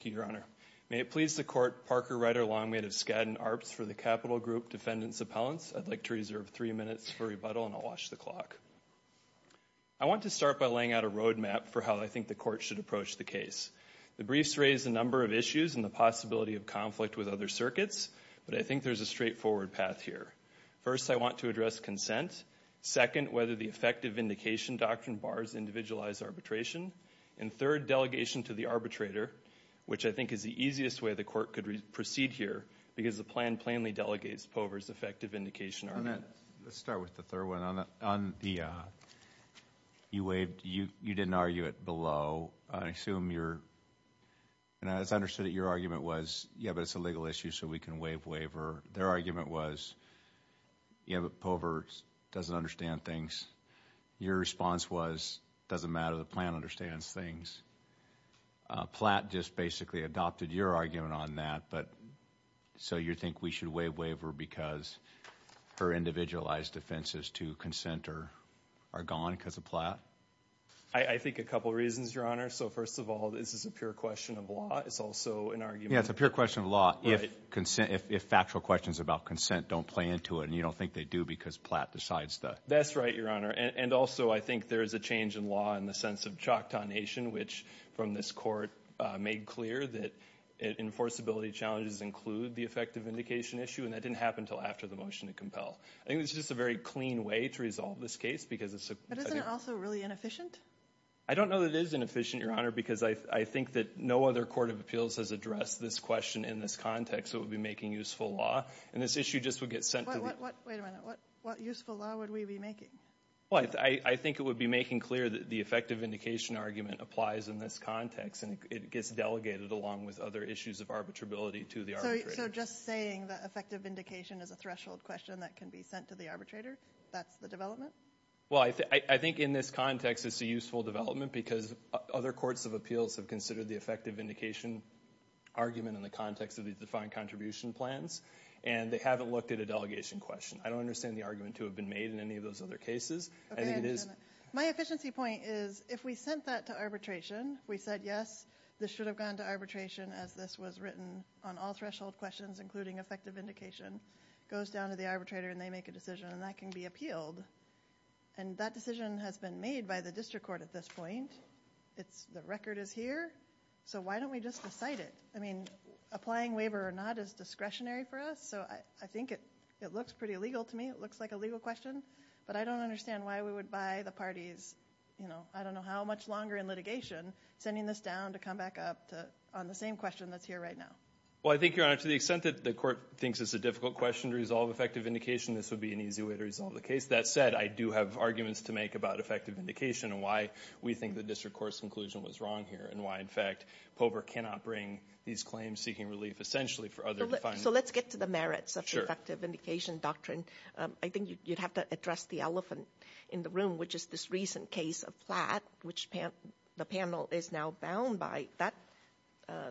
Thank you, Your Honor. May it please the Court, Parker Ryder Longmate of Skadden Arps for the Capital Group Defendant's Appellants. I'd like to reserve three minutes for rebuttal and I'll watch the clock. I want to start by laying out a roadmap for how I think the Court should approach the case. The briefs raise a number of issues and the possibility of conflict with other circuits, but I think there's a straightforward path here. First, I want to address consent. Second, whether the effective vindication doctrine bars individualized arbitration. And third, delegation to the arbitrator, which I think is the easiest way the Court could proceed here, because the plan plainly delegates Pover's effective vindication argument. Let's start with the third one. You waved, you didn't argue it below. I assume you're, and I understood that your argument was, yeah, but it's a legal issue so we can waive waiver. Their argument was, yeah, but Pover doesn't understand things. Your response was, doesn't matter, the plan understands things. Platt just basically adopted your argument on that, but so you think we should waive waiver because her individualized offenses to consent are gone because of Platt? I think a couple reasons, Your Honor. So first of all, this is a pure question of law. It's also an argument. Yeah, it's a pure question of law. If actual questions about consent don't play into it and you don't think they do because Platt decides that. That's right, Your Honor. And also I think there is a change in law in the sense of Choctaw Nation, which from this Court made clear that enforceability challenges include the effective vindication issue, and that didn't happen until after the motion to compel. I think it's just a very clean way to resolve this case because it's a... But isn't it also really inefficient? I don't know that it is inefficient, Your Honor, because I think that no other court of appeals has addressed this question in this context that would be making useful law, and this issue just would get sent to... Wait a minute. What useful law would we be making? Well, I think it would be making clear that the effective vindication argument applies in this context and it gets delegated along with other issues of arbitrability to the arbitrator. So just saying that effective vindication is a threshold question that can be sent to the arbitrator, that's the development? Well, I think in this context it's a useful development because other courts of appeals have considered the effective vindication argument in the context of the defined contribution plans and they haven't looked at a delegation question. I don't understand the argument to have been made in any of those other cases. I think it is... My efficiency point is if we sent that to arbitration, we said, yes, this should have gone to arbitration as this was written on all threshold questions, including effective vindication, goes down to the arbitrator and they make a decision and that can be appealed, and that decision has been made by the district court at this point. The record is here, so why don't we just decide it? I mean, applying waiver or not is discretionary for us, so I think it looks pretty legal to me. It looks like a legal question, but I don't understand why we would buy the parties, I don't know how much longer in litigation, sending this down to come back up on the same question that's here right now. Well, I think, Your Honor, to the extent that the court thinks it's a difficult question to resolve effective vindication, this would be an easy way to resolve the case. That said, I do have arguments to make about effective vindication and why we think the district court's conclusion was wrong here and why, in fact, POBR cannot bring these claims seeking relief essentially for other defined... So let's get to the merits of the effective vindication doctrine. I think you'd have to address the elephant in the room, which is this recent case of Platt, which the panel is now bound by.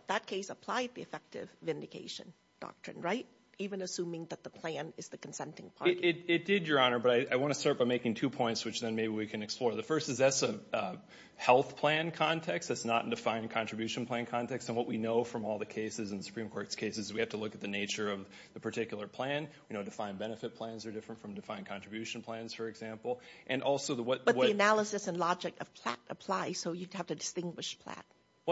That case applied the effective vindication doctrine, right? Even assuming that the plan is the consenting party. It did, Your Honor, but I want to start by making two points, which then maybe we can explore. The first is that's a health plan context, that's not a defined contribution plan context, and what we know from all the cases in the Supreme Court's cases, we have to look at the nature of the particular plan. You know, defined benefit plans are different from defined contribution plans, for example, and also the what... But the analysis and logic of Platt apply, so you'd have to distinguish Platt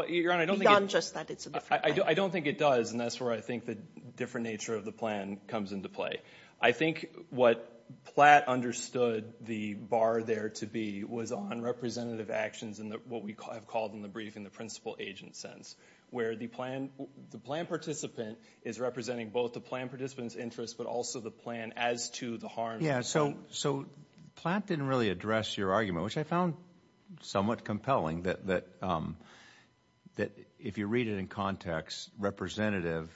beyond just that it's a different plan. Well, Your Honor, I don't think it does, and that's where I think the different nature of the plan comes into play. I think what Platt understood the bar there to be was on representative actions and what we have called in the brief in the principal agent sense, where the plan participant is representing both the plan participant's interest, but also the plan as to the harm... Yeah, so Platt didn't really address your argument, which I found somewhat compelling, that if you read it in context, representative,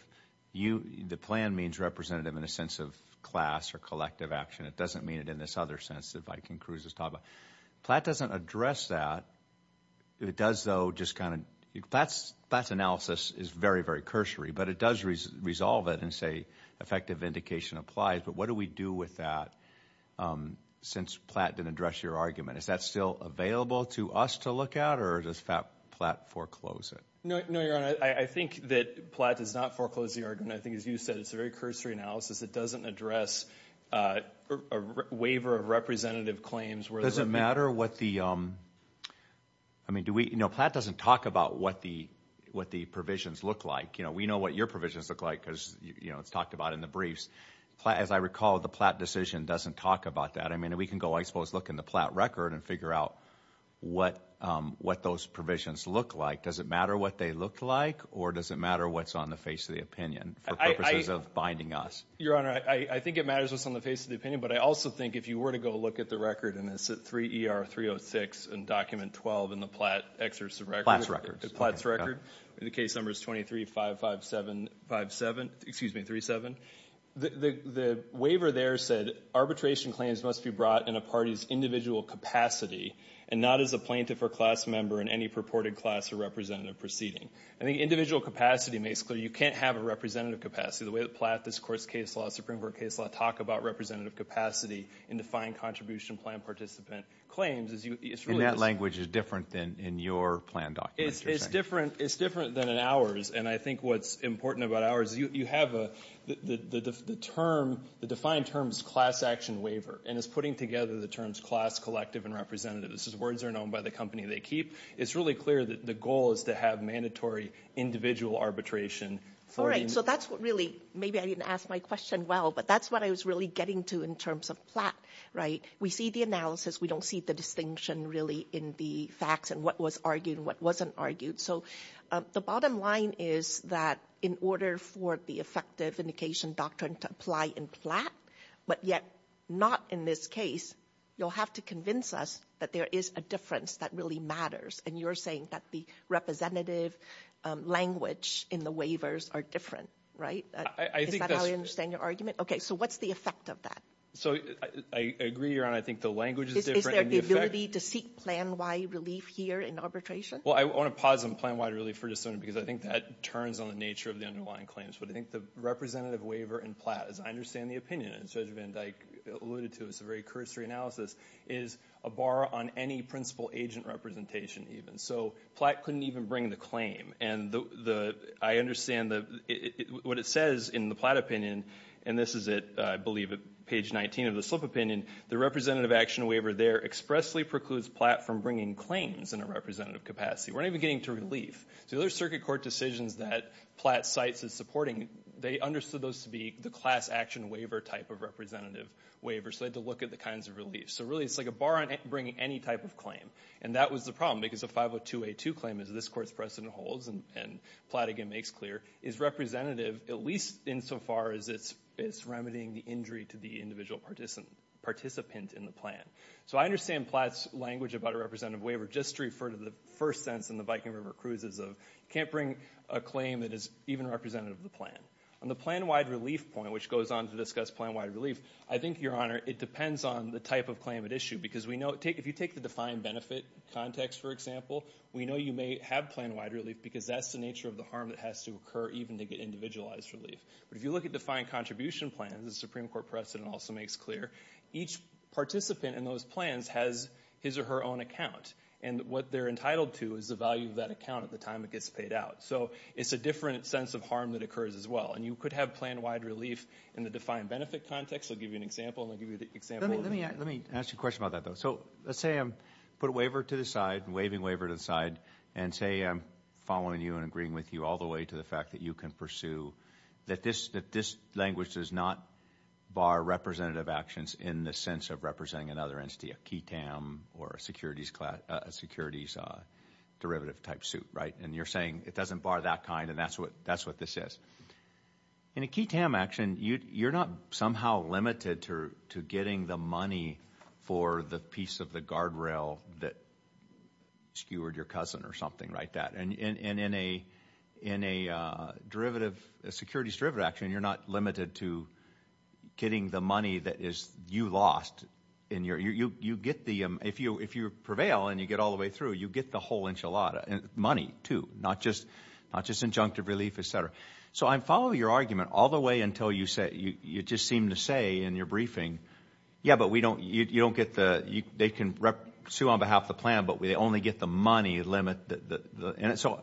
the plan means representative in a sense of class or collective action. It doesn't mean it in this other sense that Viking Cruz is talking about. Platt doesn't address that. It does, though, just kind of... Platt's analysis is very, very cursory, but it does resolve it and say effective indication applies, but what do we do with that since Platt didn't address your argument? Is that still available to us to look at, or does Platt foreclose it? No, Your Honor. I think that Platt does not foreclose the argument. I think, as you said, it's a very cursory analysis. It doesn't address a waiver of representative claims where... Does it matter what the... I mean, Platt doesn't talk about what the provisions look like. We know what your provisions look like because it's talked about in the briefs. As I recall, the Platt decision doesn't talk about that. I mean, we can go, I suppose, look in the Platt record and figure out what those provisions look like. Does it matter what they look like, or does it matter what's on the face of the opinion for purposes of binding us? Your Honor, I think it matters what's on the face of the opinion, but I also think if you were to go look at the record, and it's at 3 ER 306 and document 12 in the Platt excerpts of records... Platt's records. Platt's records. The case number is 23-557-57... Excuse me, 37. The waiver there said arbitration claims must be brought in a party's individual capacity and not as a plaintiff or class member in any purported class or representative proceeding. I think individual capacity makes clear you can't have a representative capacity. The way that Platt, this Court's case law, Supreme Court case law talk about representative capacity in defined contribution plan participant claims is you... In that language, it's different than in your plan document, you're saying? It's different than in ours, and I think what's important about ours is you have the term, the defined term is class action waiver, and it's putting together the terms class, collective, and representative. These words are known by the company they keep. It's really clear that the goal is to have mandatory individual arbitration for... All right, so that's what really... Maybe I didn't ask my question well, but that's what I was really getting to in terms of Platt, right? We see the analysis, we don't see the distinction really in the facts and what was argued and what wasn't argued. So the bottom line is that in order for the effective indication doctrine to apply in Platt, but yet not in this case, you'll have to convince us that there is a difference that really matters, and you're saying that the representative language in the waivers are different, right? Is that how you understand your argument? Okay, so what's the effect of that? So I agree, Your Honor, I think the language is different and the effect... Is there the ability to seek plan-wide relief here in arbitration? Well, I want to pause on plan-wide relief for just a moment because I think that turns on the nature of the underlying claims, but I think the representative waiver in Platt, as I understand the opinion, as Judge Van Dyke alluded to, it's a very cursory analysis, is a bar on any principal agent representation even. So Platt couldn't even bring the claim, and I understand what it says in the Platt opinion, and this is at, I believe, at page 19 of the Slip Opinion, the representative action waiver there expressly precludes Platt from bringing claims in a representative capacity. We're not even getting to relief. So the other circuit court decisions that Platt cites as supporting, they understood those to be the class action waiver type of representative waiver, so they had to look at the kinds of relief. So really, it's like a bar on bringing any type of claim, and that was the problem because the 502A2 claim, as this Court's precedent holds, and Platt again makes clear, is representative at least insofar as it's remedying the injury to the individual participant in the plan. So I understand Platt's language about a representative waiver just to refer to the first sense in the Viking River Cruises of can't bring a claim that is even representative of the plan. On the plan-wide relief point, which goes on to discuss plan-wide relief, I think, Your Honor, it depends on the type of claim at issue because we know, if you take the defined benefit context, for example, we know you may have plan-wide relief because that's the nature of the harm that has to occur even to get individualized relief. But if you look at defined contribution plans, the Supreme Court precedent also makes clear, each participant in those plans has his or her own account. And what they're entitled to is the value of that account at the time it gets paid out. So it's a different sense of harm that occurs as well. And you could have plan-wide relief in the defined benefit context. I'll give you an example, and I'll give you the example of the... Let me ask you a question about that, though. So let's say I put a waiver to the side, waiving waiver to the side, and say I'm following you and agreeing with you all the way to the that you can pursue, that this language does not bar representative actions in the sense of representing another entity, a key TAM or a securities derivative-type suit, right? And you're saying it doesn't bar that kind, and that's what this is. In a key TAM action, you're not somehow limited to getting the money for the piece of the guardrail that skewered your cousin or something like that. And in a securities derivative action, you're not limited to getting the money that you lost. If you prevail and you get all the way through, you get the whole enchilada, money too, not just injunctive relief, et cetera. So I'm following your argument all the way until you just seem to say in your briefing, yeah, but we don't, you don't get the, they can sue on behalf of the plan, but they only get the money limit. And so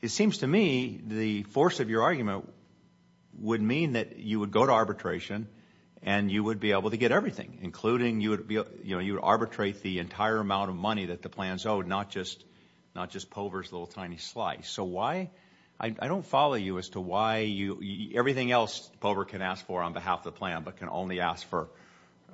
it seems to me the force of your argument would mean that you would go to arbitration and you would be able to get everything, including you would arbitrate the entire amount of money that the plans owed, not just Pover's little tiny slice. So why, I don't follow you as to why you, everything else Pover can ask for on behalf of the plan, but can only ask for,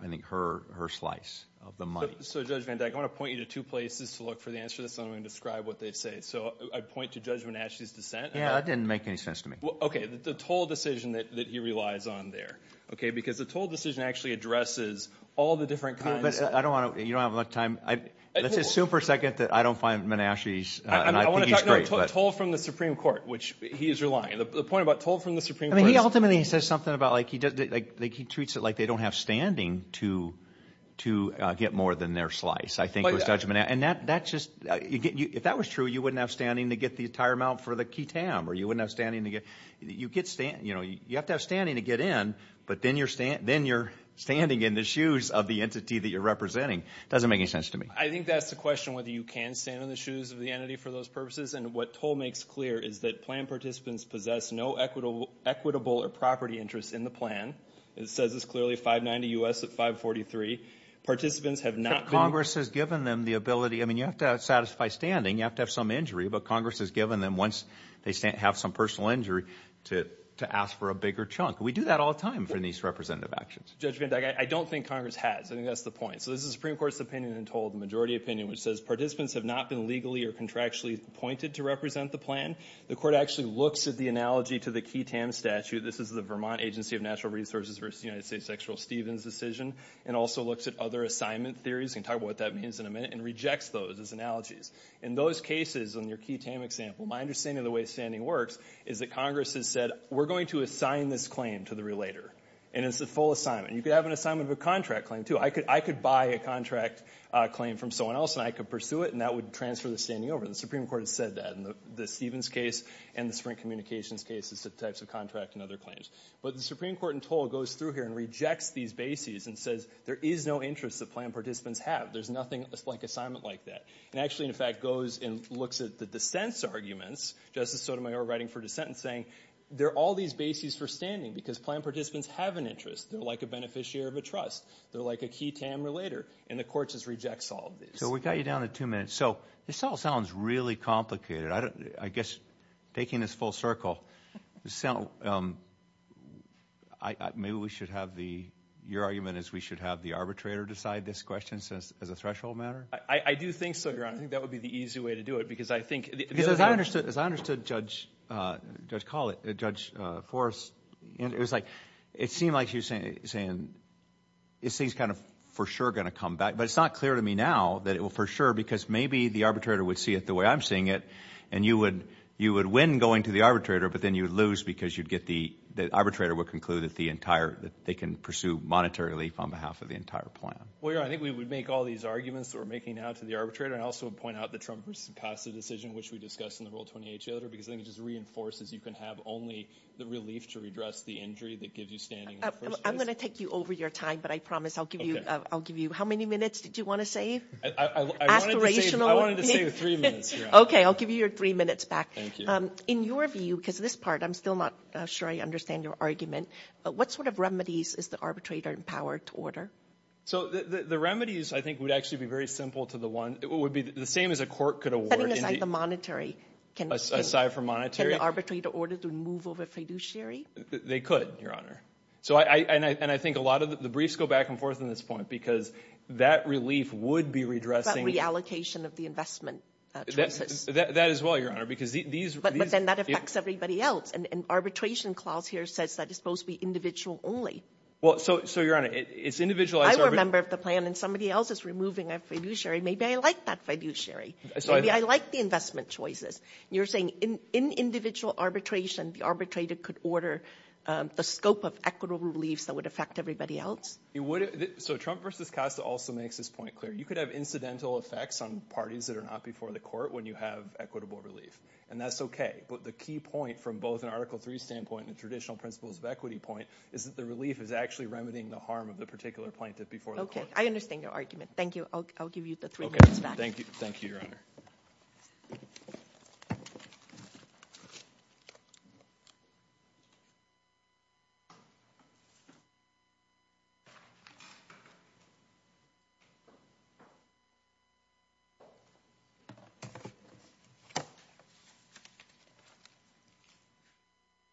I think her, her slice of the money. So Judge Van Dyke, I want to point you to two places to look for the answer to this and I'm going to describe what they say. So I point to Judge Menasche's dissent. Yeah, that didn't make any sense to me. Okay. The toll decision that he relies on there. Okay. Because the toll decision actually addresses all the different kinds. I don't want to, you don't have a lot of time. Let's assume for a second that I don't find Menasche's, and I think he's great, but... I want to talk about toll from the Supreme Court, which he is relying on. The point about toll from the Supreme Court is... I mean, he ultimately says something about like, he does, like, he treats it like they don't have standing to, to get more than their slice, I think, with Judge Menasche. And that, that's just, if that was true, you wouldn't have standing to get the entire amount for the key TAM, or you wouldn't have standing to get, you get, you know, you have to have standing to get in, but then you're standing in the shoes of the entity that you're representing. Doesn't make any sense to me. I think that's the question, whether you can stand in the shoes of the entity for those purposes. And what toll makes clear is that plan participants possess no equitable, equitable or property interests in the plan. It says it's clearly 590 U.S. at 543. Participants have not... Congress has given them the ability, I mean, you have to satisfy standing, you have to have some injury, but Congress has given them, once they stand, have some personal injury, to ask for a bigger chunk. We do that all the time for these representative actions. Judge Van Dyke, I don't think Congress has. I think that's the point. So this is the Supreme Court's opinion in toll, the majority opinion, which says participants have not been legally or contractually appointed to represent the plan. The court actually looks at the analogy to the Key Tam Statute. This is the Vermont Agency of Natural Resources versus United States Sexual Stevens decision, and also looks at other assignment theories, and we'll talk about what that means in a minute, and rejects those as analogies. In those cases, on your Key Tam example, my understanding of the way standing works is that Congress has said, we're going to assign this claim to the relator, and it's a full assignment. You could have an assignment of a contract claim, too. I could buy a contract claim from someone else, and I could pursue it, and that would transfer the standing over. The Supreme Court has said that in the Stevens case, and the Sprint Communications case, as to types of contract and other claims. But the Supreme Court in toll goes through here and rejects these bases, and says, there is no interest that plan participants have. There's nothing like assignment like that. And actually, in fact, goes and looks at the dissent's arguments, Justice Sotomayor writing for dissent, and saying, there are all these bases for standing, because plan participants have an interest. They're like a beneficiary of a trust. They're like a Key Tam relator. And the court just rejects all of these. So we got you down to two minutes. So this all sounds really complicated. I guess, taking this full circle, maybe we should have the, your argument is we should have the arbitrator decide this question as a threshold matter? I do think so, Your Honor. I think that would be the easy way to do it, because I think- Because as I understood Judge Forrest, it was like, it seemed like he was saying, this thing's kind of for sure going to come back. But it's not clear to me now that it will for sure, because maybe the arbitrator would see it the way I'm seeing it. And you would win going to the arbitrator, but then you would lose, because you'd get the, the arbitrator would conclude that the entire, that they can pursue monetary relief on behalf of the entire plan. Well, Your Honor, I think we would make all these arguments that we're making now to the arbitrator. And I also would point out that Trump has passed a decision, which we discussed in the Rule 28 Jailor, because I think it just reinforces you can have only the relief to redress the injury that gives you standing. I'm going to take you over your time, but I promise I'll give you, I'll give you, how many minutes did you want to save? I wanted to save three minutes, Your Honor. Okay, I'll give you your three minutes back. Thank you. In your view, because this part, I'm still not sure I understand your argument, what sort of remedies is the arbitrator empowered to order? So the remedies, I think, would actually be very simple to the one, it would be the same as a court could award- Setting aside the monetary. Aside from monetary. Can the arbitrator order to move over fiduciary? They could, Your Honor. And I think a lot of the briefs go back and forth on this point, because that relief would be redressing- About reallocation of the investment choices. That as well, Your Honor, because these- But then that affects everybody else. An arbitration clause here says that it's supposed to be individual only. Well, so Your Honor, it's individualized- I'm a member of the plan and somebody else is removing a fiduciary. Maybe I like that fiduciary. Maybe I like the investment choices. You're saying in individual arbitration, the arbitrator could order the scope of equitable reliefs that would affect everybody else? It would- So Trump versus Costa also makes this point clear. You could have incidental effects on parties that are not before the court when you have equitable relief. And that's okay. But the key point from both an Article III standpoint and traditional principles of equity point is that the relief is actually remedying the harm of the particular plaintiff before the court. Okay. I understand your argument. Thank you. I'll give you the three minutes back. Thank you, Your Honor.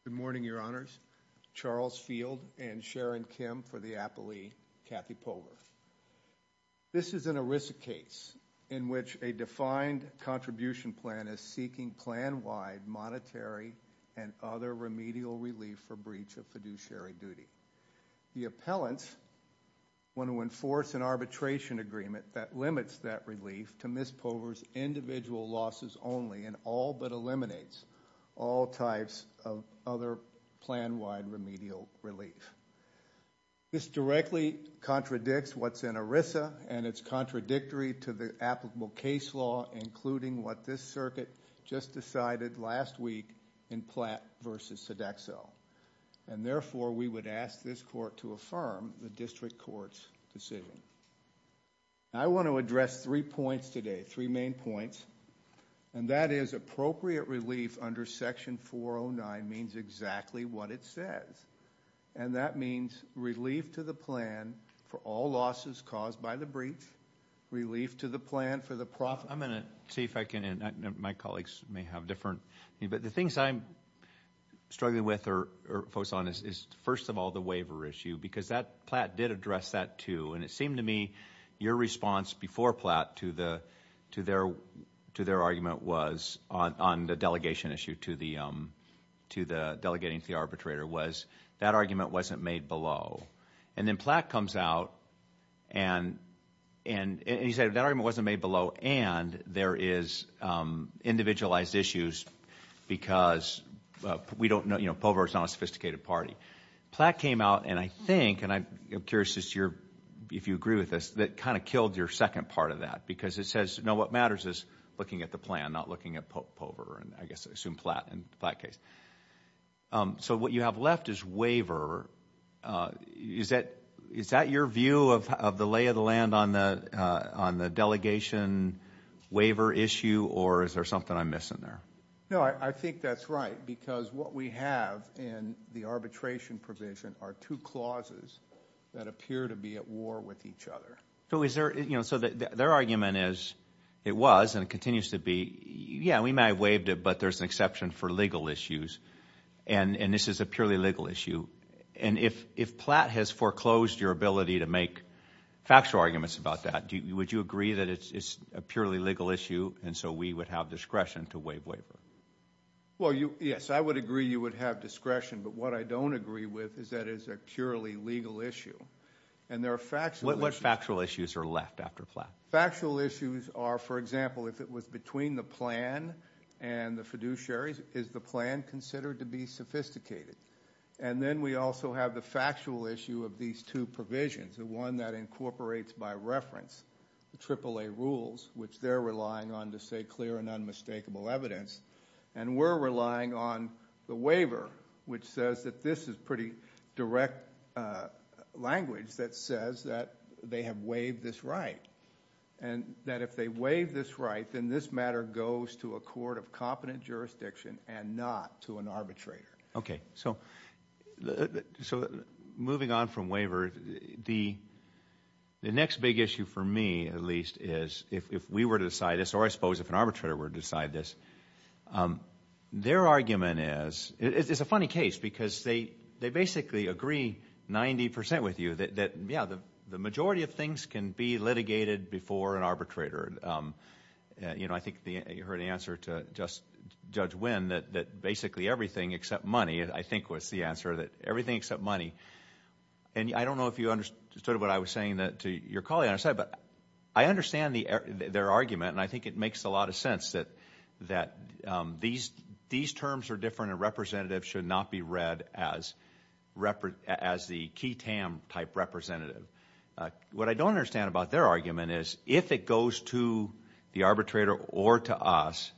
Good morning, Your Honors. Charles Field and Sharon Kim for the Appley. Kathy Pogler. This is an ERISA case in which a defined contribution plan is seeking plan-wide monetary and other remedial relief for breach of fiduciary duty. The appellants want to enforce an arbitration agreement that limits that relief to Ms. Pogler's individual losses only and all but eliminates all types of other plan-wide remedial relief. This directly contradicts what's in ERISA and it's contradictory to the applicable case law, including what this circuit just decided last week in Platt versus Sodexo. And therefore, we would ask this court to affirm the district court's decision. I want to address three points today, three main points. And that is appropriate relief under Section 409 means exactly what it says. And that means relief to the plan for all losses caused by the breach, relief to the plan for the profit. I'm going to see if I can, and my colleagues may have different, but the things I'm struggling with or focus on is first of all, the waiver issue, because that Platt did address that too. And it seemed to me your response before Platt to their argument was on the delegation issue to the delegating to the arbitrator was that argument wasn't made below. And then Platt comes out and he said that argument wasn't made below and there is individualized issues because we don't know, you know, Pogler's not a sophisticated party. Platt came out and I think, and I'm curious if you agree with this, that kind of killed your second part of that because it says, what matters is looking at the plan, not looking at Pogler and I guess I assume Platt in that case. So what you have left is waiver. Is that your view of the lay of the land on the delegation waiver issue or is there something I'm missing there? No, I think that's right because what we have in the arbitration provision are two clauses that appear to be at war with each other. So is there, you know, so their argument is, it was and it continues to be, yeah, we may have waived it, but there's an exception for legal issues and this is a purely legal issue. And if Platt has foreclosed your ability to make factual arguments about that, would you agree that it's a purely legal issue and so we would have discretion to waive waiver? Well, yes, I would agree you would have discretion, but what I don't agree with is that it's a purely legal issue and there are factual issues. What factual issues are left after Platt? Factual issues are, for example, if it was between the plan and the fiduciaries, is the plan considered to be sophisticated? And then we also have the factual issue of these two provisions, the one that incorporates by reference the AAA rules, which they're relying on to say clear and unmistakable evidence. And we're relying on the waiver, which says that this is pretty direct language that says that they have waived this right. And that if they waive this right, then this matter goes to a court of competent jurisdiction and not to an arbitrator. Okay. So moving on from waiver, the next big issue for me, at least, is if we were to decide this, or I suppose if an arbitrator were to decide this, their argument is, it's a funny case because they basically agree 90% with you that, yeah, the majority of things can be litigated before an arbitrator. I think you heard the answer to Judge Wynn that basically everything except money, I think was the answer, that everything except money. And I don't know if you understood what I was saying to your colleague on our side, but I understand their argument and I think it makes a lot of sense that these terms are different and representative should not be read as the key TAM type representative. What I don't understand about their argument is if it goes to the arbitrator or to us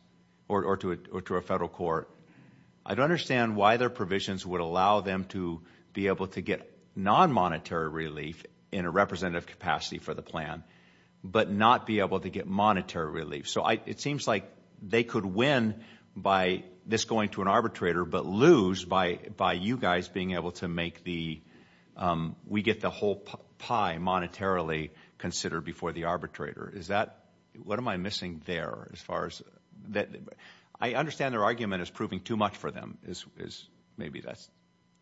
or to a federal court, I don't understand why their provisions would allow them to be able to get non-monetary relief in a representative capacity for the plan, but not be able to get monetary relief. So it seems like they could win by this going to an arbitrator, but lose by you guys being able to make the, we get the whole pie monetarily considered before the arbitrator. Is that, what am I missing there as far as, I understand their argument is proving too much for them, is maybe that's.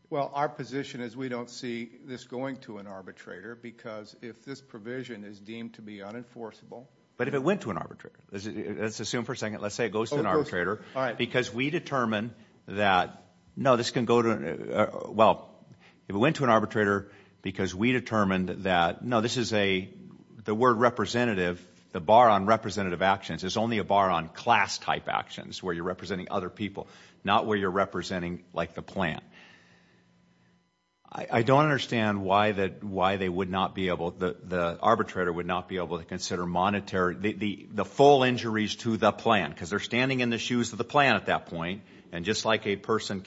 Well, our position is we don't see this going to an arbitrator because if this provision is deemed to be unenforceable. But if it went to an arbitrator, let's assume for a second, let's say it goes to an arbitrator because we determine that no, this can go to, well, if it went to an arbitrator because we determined that no, this is a, the word representative, the bar on representative actions is only a bar on class type actions where you're representing like the plan. I don't understand why they would not be able, the arbitrator would not be able to consider monetary, the full injuries to the plan because they're standing in the shoes of the plan at that point. And just like a person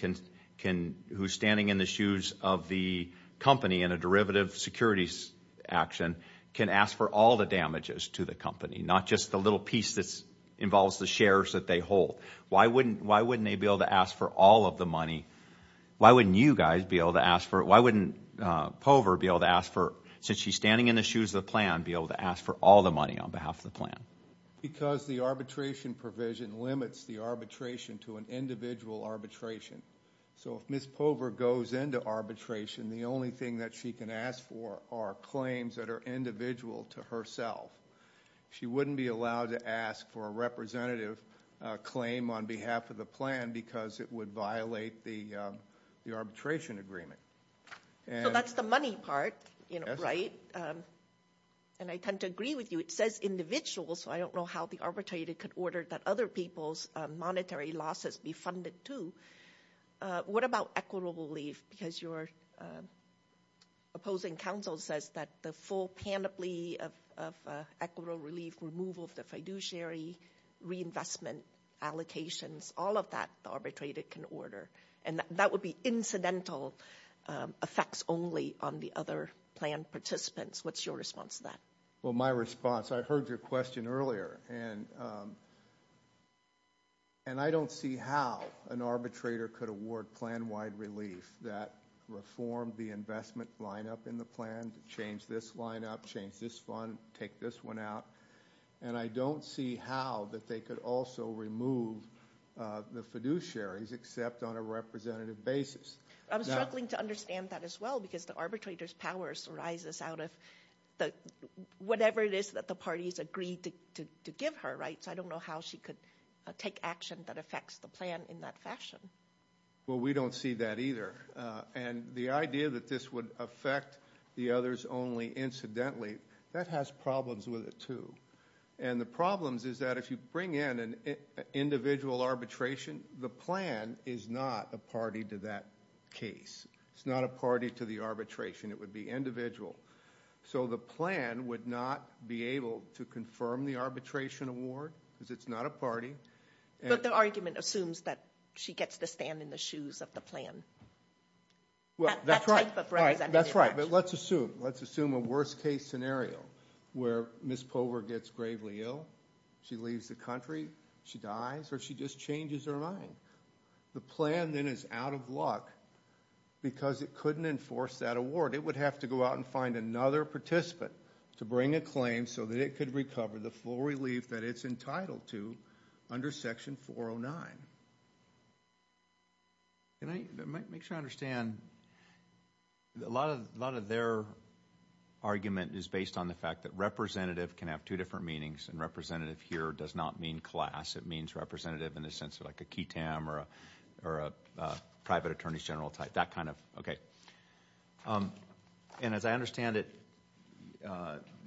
who's standing in the shoes of the company in a derivative securities action can ask for all the damages to the company, not just the little piece that involves the shares that they hold. Why wouldn't they be able to ask for all of the money? Why wouldn't you guys be able to ask for, why wouldn't Pover be able to ask for, since she's standing in the shoes of the plan, be able to ask for all the money on behalf of the plan? Because the arbitration provision limits the arbitration to an individual arbitration. So if Ms. Pover goes into arbitration, the only thing that she can ask for are claims that are individual to herself. She wouldn't be allowed to ask for a representative claim on behalf of the plan because it would violate the arbitration agreement. So that's the money part, you know, right? And I tend to agree with you. It says individual, so I don't know how the arbitrator could order that other people's monetary losses be funded too. What about equitable relief? Because your opposing counsel says that the full panoply of equitable relief removal of the fiduciary reinvestment allocations, all of that the arbitrator can order, and that would be incidental effects only on the other plan participants. What's your response to that? Well, my response, I heard your question earlier, and I don't see how an arbitrator could award plan-wide relief that reformed the investment lineup in the plan to change this lineup, change this fund, take this one out, and I don't see how that they could also remove the fiduciaries except on a representative basis. I'm struggling to understand that as well because the arbitrator's powers arises out of whatever it is that the parties agreed to give her, right? So I don't know how she could take action that affects the plan in that fashion. Well, we don't see that either, and the idea that this would affect the others only incidentally, that has problems with it too, and the problems is that if you bring in an individual arbitration, the plan is not a party to that case. It's not a party to the arbitration. It would be individual. So the plan would not be able to confirm the arbitration award because it's not a party. But the argument assumes that she gets to stand in the shoes of the plan. Well, that's right. That's right, but let's assume, let's assume a worst-case scenario where Ms. Pover gets gravely ill, she leaves the country, she dies, or she just changes her mind. The plan then is out of luck because it couldn't enforce that award. It would have to go out and find another participant to bring a claim so that it could recover the full relief that it's entitled to under Section 409. Can I make sure I understand? A lot of their argument is based on the fact that representative can have two different meanings, and representative here does not mean class. It means representative in the sense of like a key tam or a private attorney general type, that kind of, okay. And as I understand it,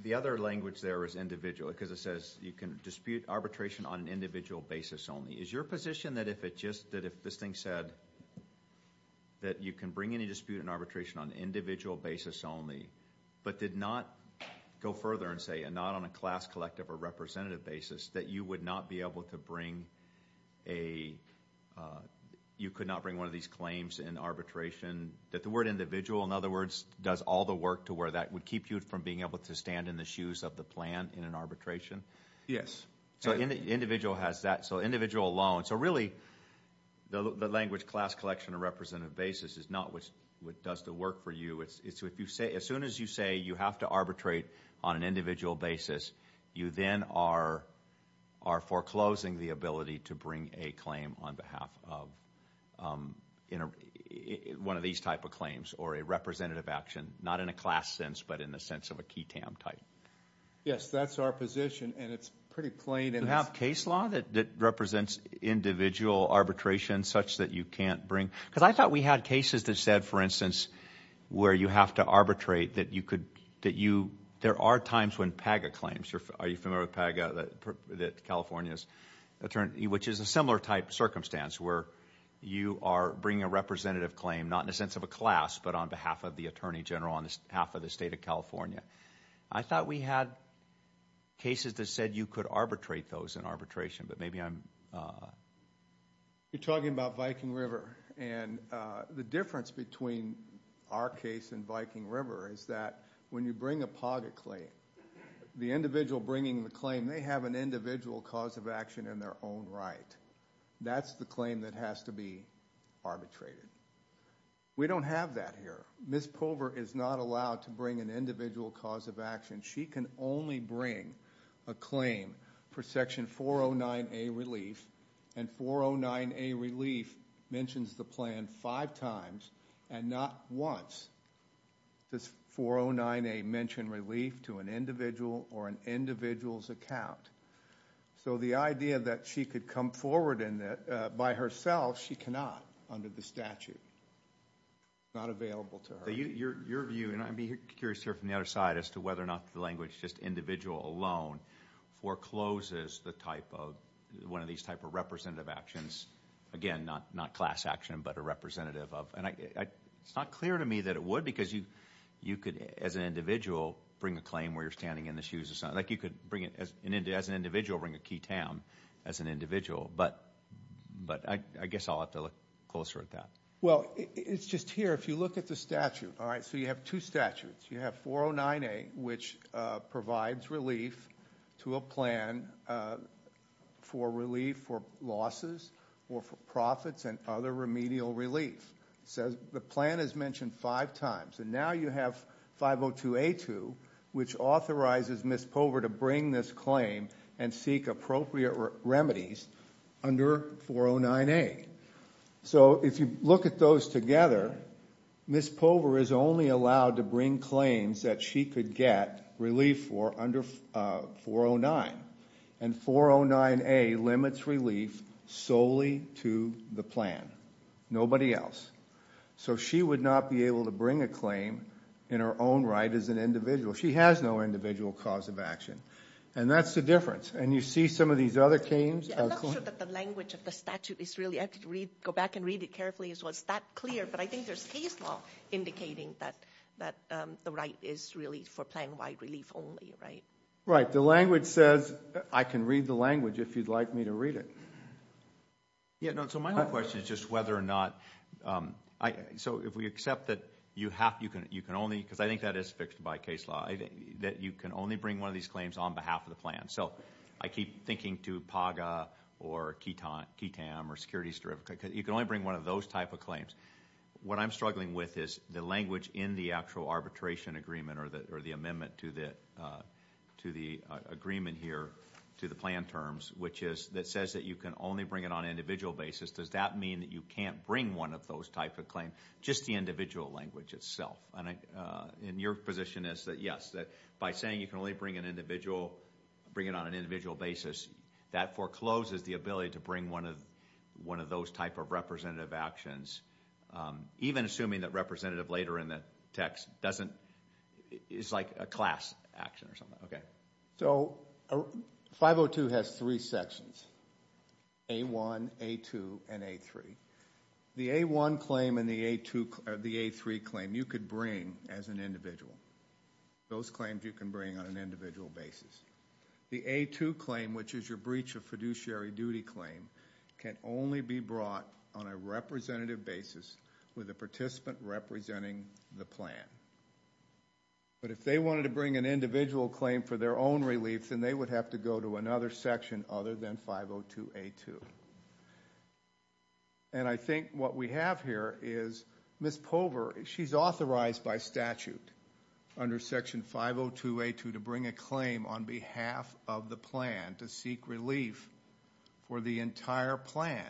the other language there is individual because it says you can dispute arbitration on an individual basis only. Is your position that if it just, that if this thing said that you can bring any dispute in arbitration on an individual basis only, but did not go further and say, and not on a class, collective, or representative basis, that you would not be able to bring a, you could not bring one of these claims in arbitration, that the word individual, in other words, does all the work to where that would keep you from being able to stand in the shoes of the plan in an arbitration? Yes. So individual has that, so individual alone, so really the language class, collection, or representative basis is not what does the work for you. It's if you say, as soon as you say you have to arbitrate on an individual basis, you then are foreclosing the ability to bring a claim on behalf of one of these type of claims or a representative action, not in a class sense, but in the sense of a QTAM type. Yes, that's our position, and it's pretty plain. Do you have case law that represents individual arbitration such that you can't bring, because I thought we had cases that said, for instance, where you have to arbitrate, that you could, that you, there are times when PAGA claims, are you familiar with PAGA, that California's attorney, which is a similar type circumstance where you are bringing a representative claim, not in the sense of a class, but on behalf of the attorney general, on behalf of the state of California. I thought we had cases that said you could arbitrate those in arbitration, but maybe I'm... You're talking about Viking River, and the difference between our case and Viking River is that when you bring a PAGA claim, the individual bringing the claim, they have an individual cause of action in their own right. That's the claim that has to be arbitrated. We don't have that here. Ms. Pover is not allowed to bring an individual cause of action. She can only bring a claim for section 409A relief, and 409A relief mentions the plan five times and not once. Does 409A mention relief to an individual or an individual's account? So the idea that she could come forward in it by herself, she cannot under the statute. It's not available to her. Your view, and I'd be curious to hear from the other side as to whether or not the language, just individual alone, forecloses the type of, one of these type of representative actions. Again, not class action, but a representative of, and it's not clear to me that it would because you could, as an individual, bring a claim where you're standing in the shoes of someone, like you could bring it as an individual, bring a key town as an individual, but I guess I'll have to look closer at that. Well, it's just here, if you look at the statute, all right, so you have two statutes. You have 409A, which provides relief to a plan for relief for losses or for profits and other remedial relief. The plan is mentioned five times, and now you have 502A2, which authorizes Ms. Pover to bring this claim and seek appropriate remedies under 409A. So if you look at those together, Ms. Pover is only allowed to bring claims that she could get relief for under 409, and 409A limits relief solely to the plan, nobody else. So she would not be able to bring a claim in her own right as an individual. She has no individual cause of action, and that's the difference, and you see some of these other claims. I'm not sure that the language of the statute is really, I could read, go back and read it carefully as well, it's that clear, but I think there's case law indicating that the right is really for plan-wide relief only, right? Right, the language says I can read the language if you'd like me to read it. Yeah, no, so my question is just whether or not, so if we accept that you have, you can only, because I think that is fixed by case law, that you can only bring one of these claims on behalf of the plan. So I keep thinking to PAGA or KETAM or securities, because you can only bring one of those type of claims. What I'm struggling with is the language in the actual arbitration agreement or the amendment to to the agreement here to the plan terms, which is that says that you can only bring it on an individual basis. Does that mean that you can't bring one of those type of claims? Just the individual language itself, and in your position is that yes, that by saying you can only bring an individual, bring it on an individual basis, that forecloses the ability to bring one of one of those type of representative actions, even assuming that representative later in the text doesn't, it's like a class action or something. Okay, so 502 has three sections, A1, A2, and A3. The A1 claim and the A2 or the A3 claim you could bring as an individual. Those claims you can bring on an individual basis. The A2 claim, which is your breach of fiduciary duty claim, can only be brought on a representative basis with a participant representing the plan. But if they wanted to bring an individual claim for their own relief, then they would have to go to another section other than 502A2. And I think what we have here is Ms. Pover, she's authorized by statute under section 502A2 to bring a claim on behalf of the plan to seek relief for the entire plan.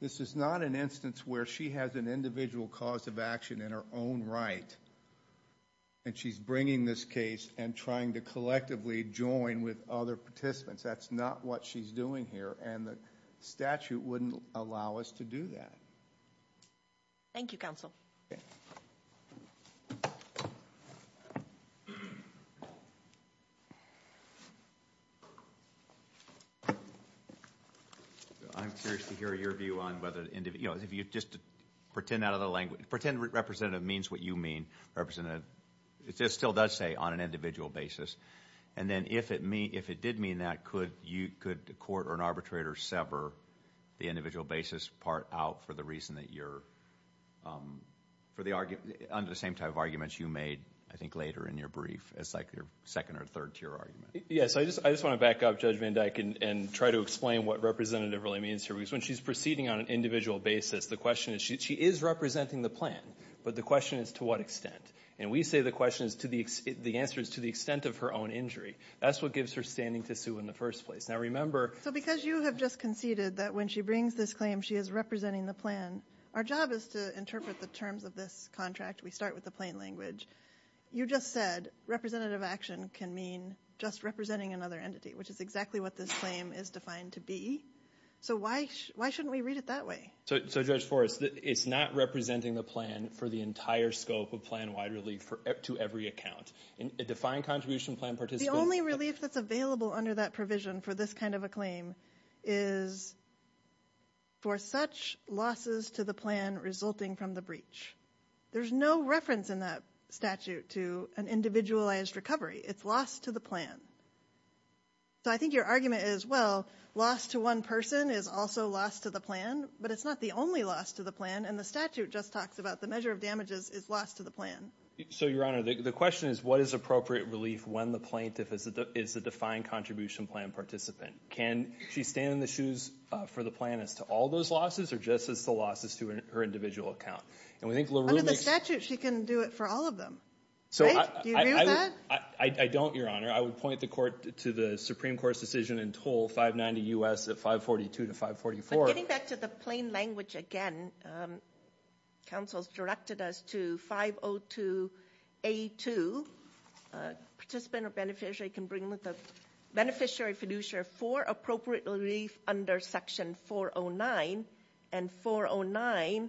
This is not an instance where she has an individual cause of action in her own right, and she's bringing this case and trying to collectively join with other participants. That's not what she's doing here, and the statute wouldn't allow us to do that. Thank you, counsel. Okay. I'm curious to hear your view on whether, you know, if you just pretend out of the language, pretend representative means what you mean, representative, it still does say on an individual basis. And then if it did mean that, could the court or an arbitrator sever the individual basis part out for the reason that you're, for the argument, under the same type of arguments you made, I think, later in your brief as like your second or third tier argument? Yes, I just want to back up Judge Van Dyke and try to explain what representative really means here. Because when she's proceeding on an individual basis, the question is, she is representing the plan, but the question is to what extent. And we say the question is to the, the answer is to the extent of her own injury. That's what gives her standing to sue in the first place. Now remember... So because you have just conceded that when she brings this claim she is representing the plan, our job is to interpret the terms of this contract. We start with the plain language. You just said representative action can mean just representing another entity, which is exactly what this claim is defined to be. So why, why shouldn't we read it that way? So, so Judge Forrest, it's not representing the plan for the entire scope of plan-wide relief to every account. A defined contribution plan participant... The only relief that's available under that provision for this kind of a claim is for such losses to the plan resulting from the breach. There's no reference in that statute to an individualized recovery. It's loss to the plan. So I think your argument is, well, loss to one person is also loss to the plan, but it's not the only loss to the plan. And the statute just talks about the measure of damages is loss to the plan. So Your Honor, the question is what is appropriate relief when the plaintiff is the defined contribution plan participant? Can she stand in the shoes for the plan as to all those losses or just as the losses to her individual account? And we think LaRue makes... Under the statute, she can do it for all of them, right? Do you agree with that? I don't, Your Honor. I would point the court to the Supreme Court's decision and toll 590 U.S. at 542 to 544. Getting back to the plain language again, counsel's directed us to 502A2. A participant or beneficiary can bring with the beneficiary fiduciary for appropriate relief under section 409. And 409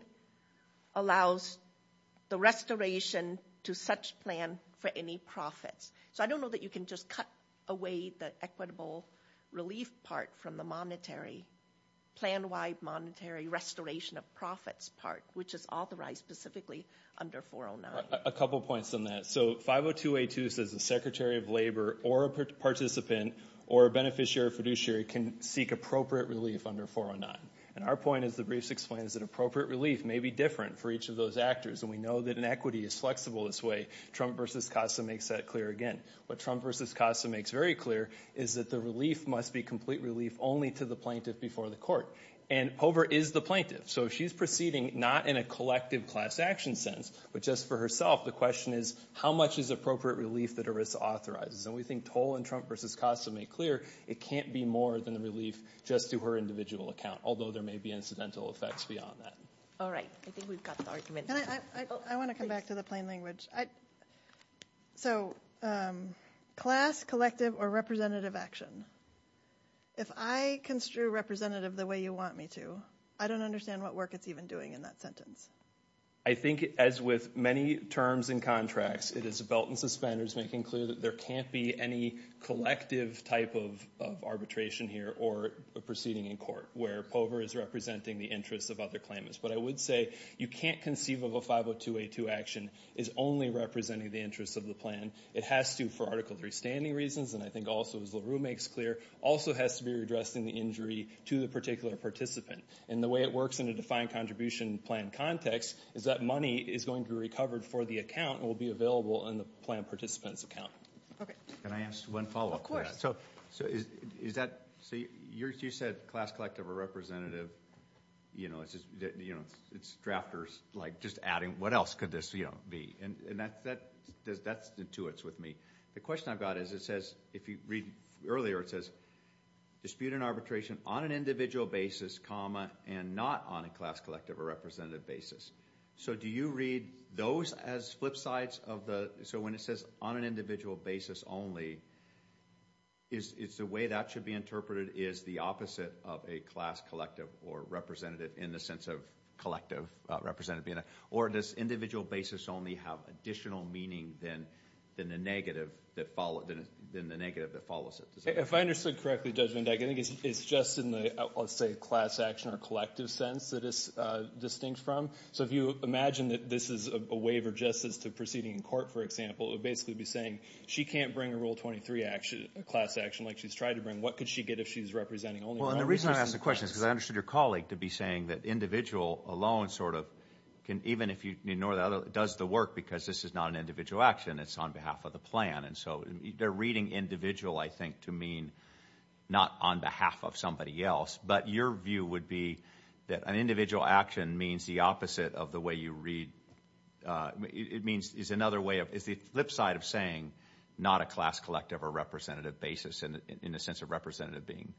allows the restoration to such plan for any profits. So I don't know that you can just cut away the equitable relief part from the monetary, plan-wide monetary restoration of profits part, which is authorized specifically under 409. A couple points on that. So 502A2 says the Secretary of Labor or a participant or a beneficiary fiduciary can seek appropriate relief under 409. And our point is, the briefs explain, is that appropriate relief may be different for each of those actors. And we know that an equity is flexible this way. Trump v. Costa makes that again. What Trump v. Costa makes very clear is that the relief must be complete relief only to the plaintiff before the court. And Hoover is the plaintiff. So she's proceeding not in a collective class action sense, but just for herself. The question is, how much is appropriate relief that ERISA authorizes? And we think Toll and Trump v. Costa make clear, it can't be more than the relief just to her individual account, although there may be incidental effects beyond that. All right. I think we've got the argument. I want to come back to the plain language. So class, collective, or representative action. If I construe representative the way you want me to, I don't understand what work it's even doing in that sentence. I think as with many terms and contracts, it is a belt and suspenders making clear that there can't be any collective type of arbitration here or a proceeding in court where Pover is representing the interests of other claimants. But I would say, you can't conceive of a 50282 action is only representing the interests of the plan. It has to, for Article III standing reasons, and I think also as LaRue makes clear, also has to be redressing the injury to the particular participant. And the way it works in a defined contribution plan context is that money is going to be recovered for the account and will be available in the plan participant's account. Okay. Can I ask one follow-up? Of course. So you said class, collective, or representative. It's drafters just adding, what else could this be? And that's intuits with me. The question I've got is it says, if you read earlier, it says dispute and arbitration on an individual basis, comma, and not on a class, collective, or representative basis. So do you read those as flip sides of the, so when it says on an individual basis only, is the way that should be interpreted is the opposite of a class, collective, or representative in the sense of collective, representative, or does individual basis only have additional meaning than the negative that follows it? If I understood correctly, Judge Vendetta, I think it's just in the, let's say, class action or collective sense that it's distinct from. So if you imagine that this is a waiver just as to proceeding in court, for example, it would basically be saying, she can't bring a Rule 23 class action like she's tried to bring. What could she get if she's representing only one person? Well, and the reason I ask the question is because I understood your colleague to be saying that individual alone sort of can, even if you ignore the other, does the work because this is not an individual action. It's on behalf of the plan. And so they're reading individual, I think, to mean not on behalf of somebody else. But your view would be that an individual action means the opposite of the way you read, it means is another way of, is the flip side of saying not a class, collective, or representative basis in a sense of representative being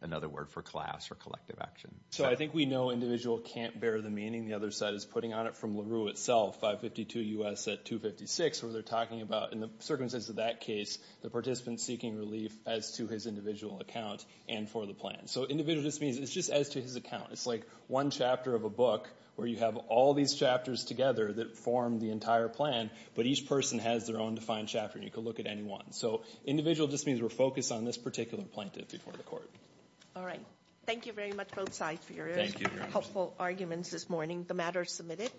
another word for class or collective action. So I think we know individual can't bear the meaning. The other side is putting on it from LaRue itself, 552 U.S. at 256, where they're talking about, in the circumstances of that case, the participant seeking relief as to his individual account and for the plan. So individual just means it's just as to his account. It's like one chapter of a book where you have all these chapters together that form the entire plan, but each person has their own defined chapter and you can look at any one. So individual just means we're focused on this particular plaintiff before the court. All right. Thank you very much, both sides, for your helpful arguments this morning. The matter is submitted.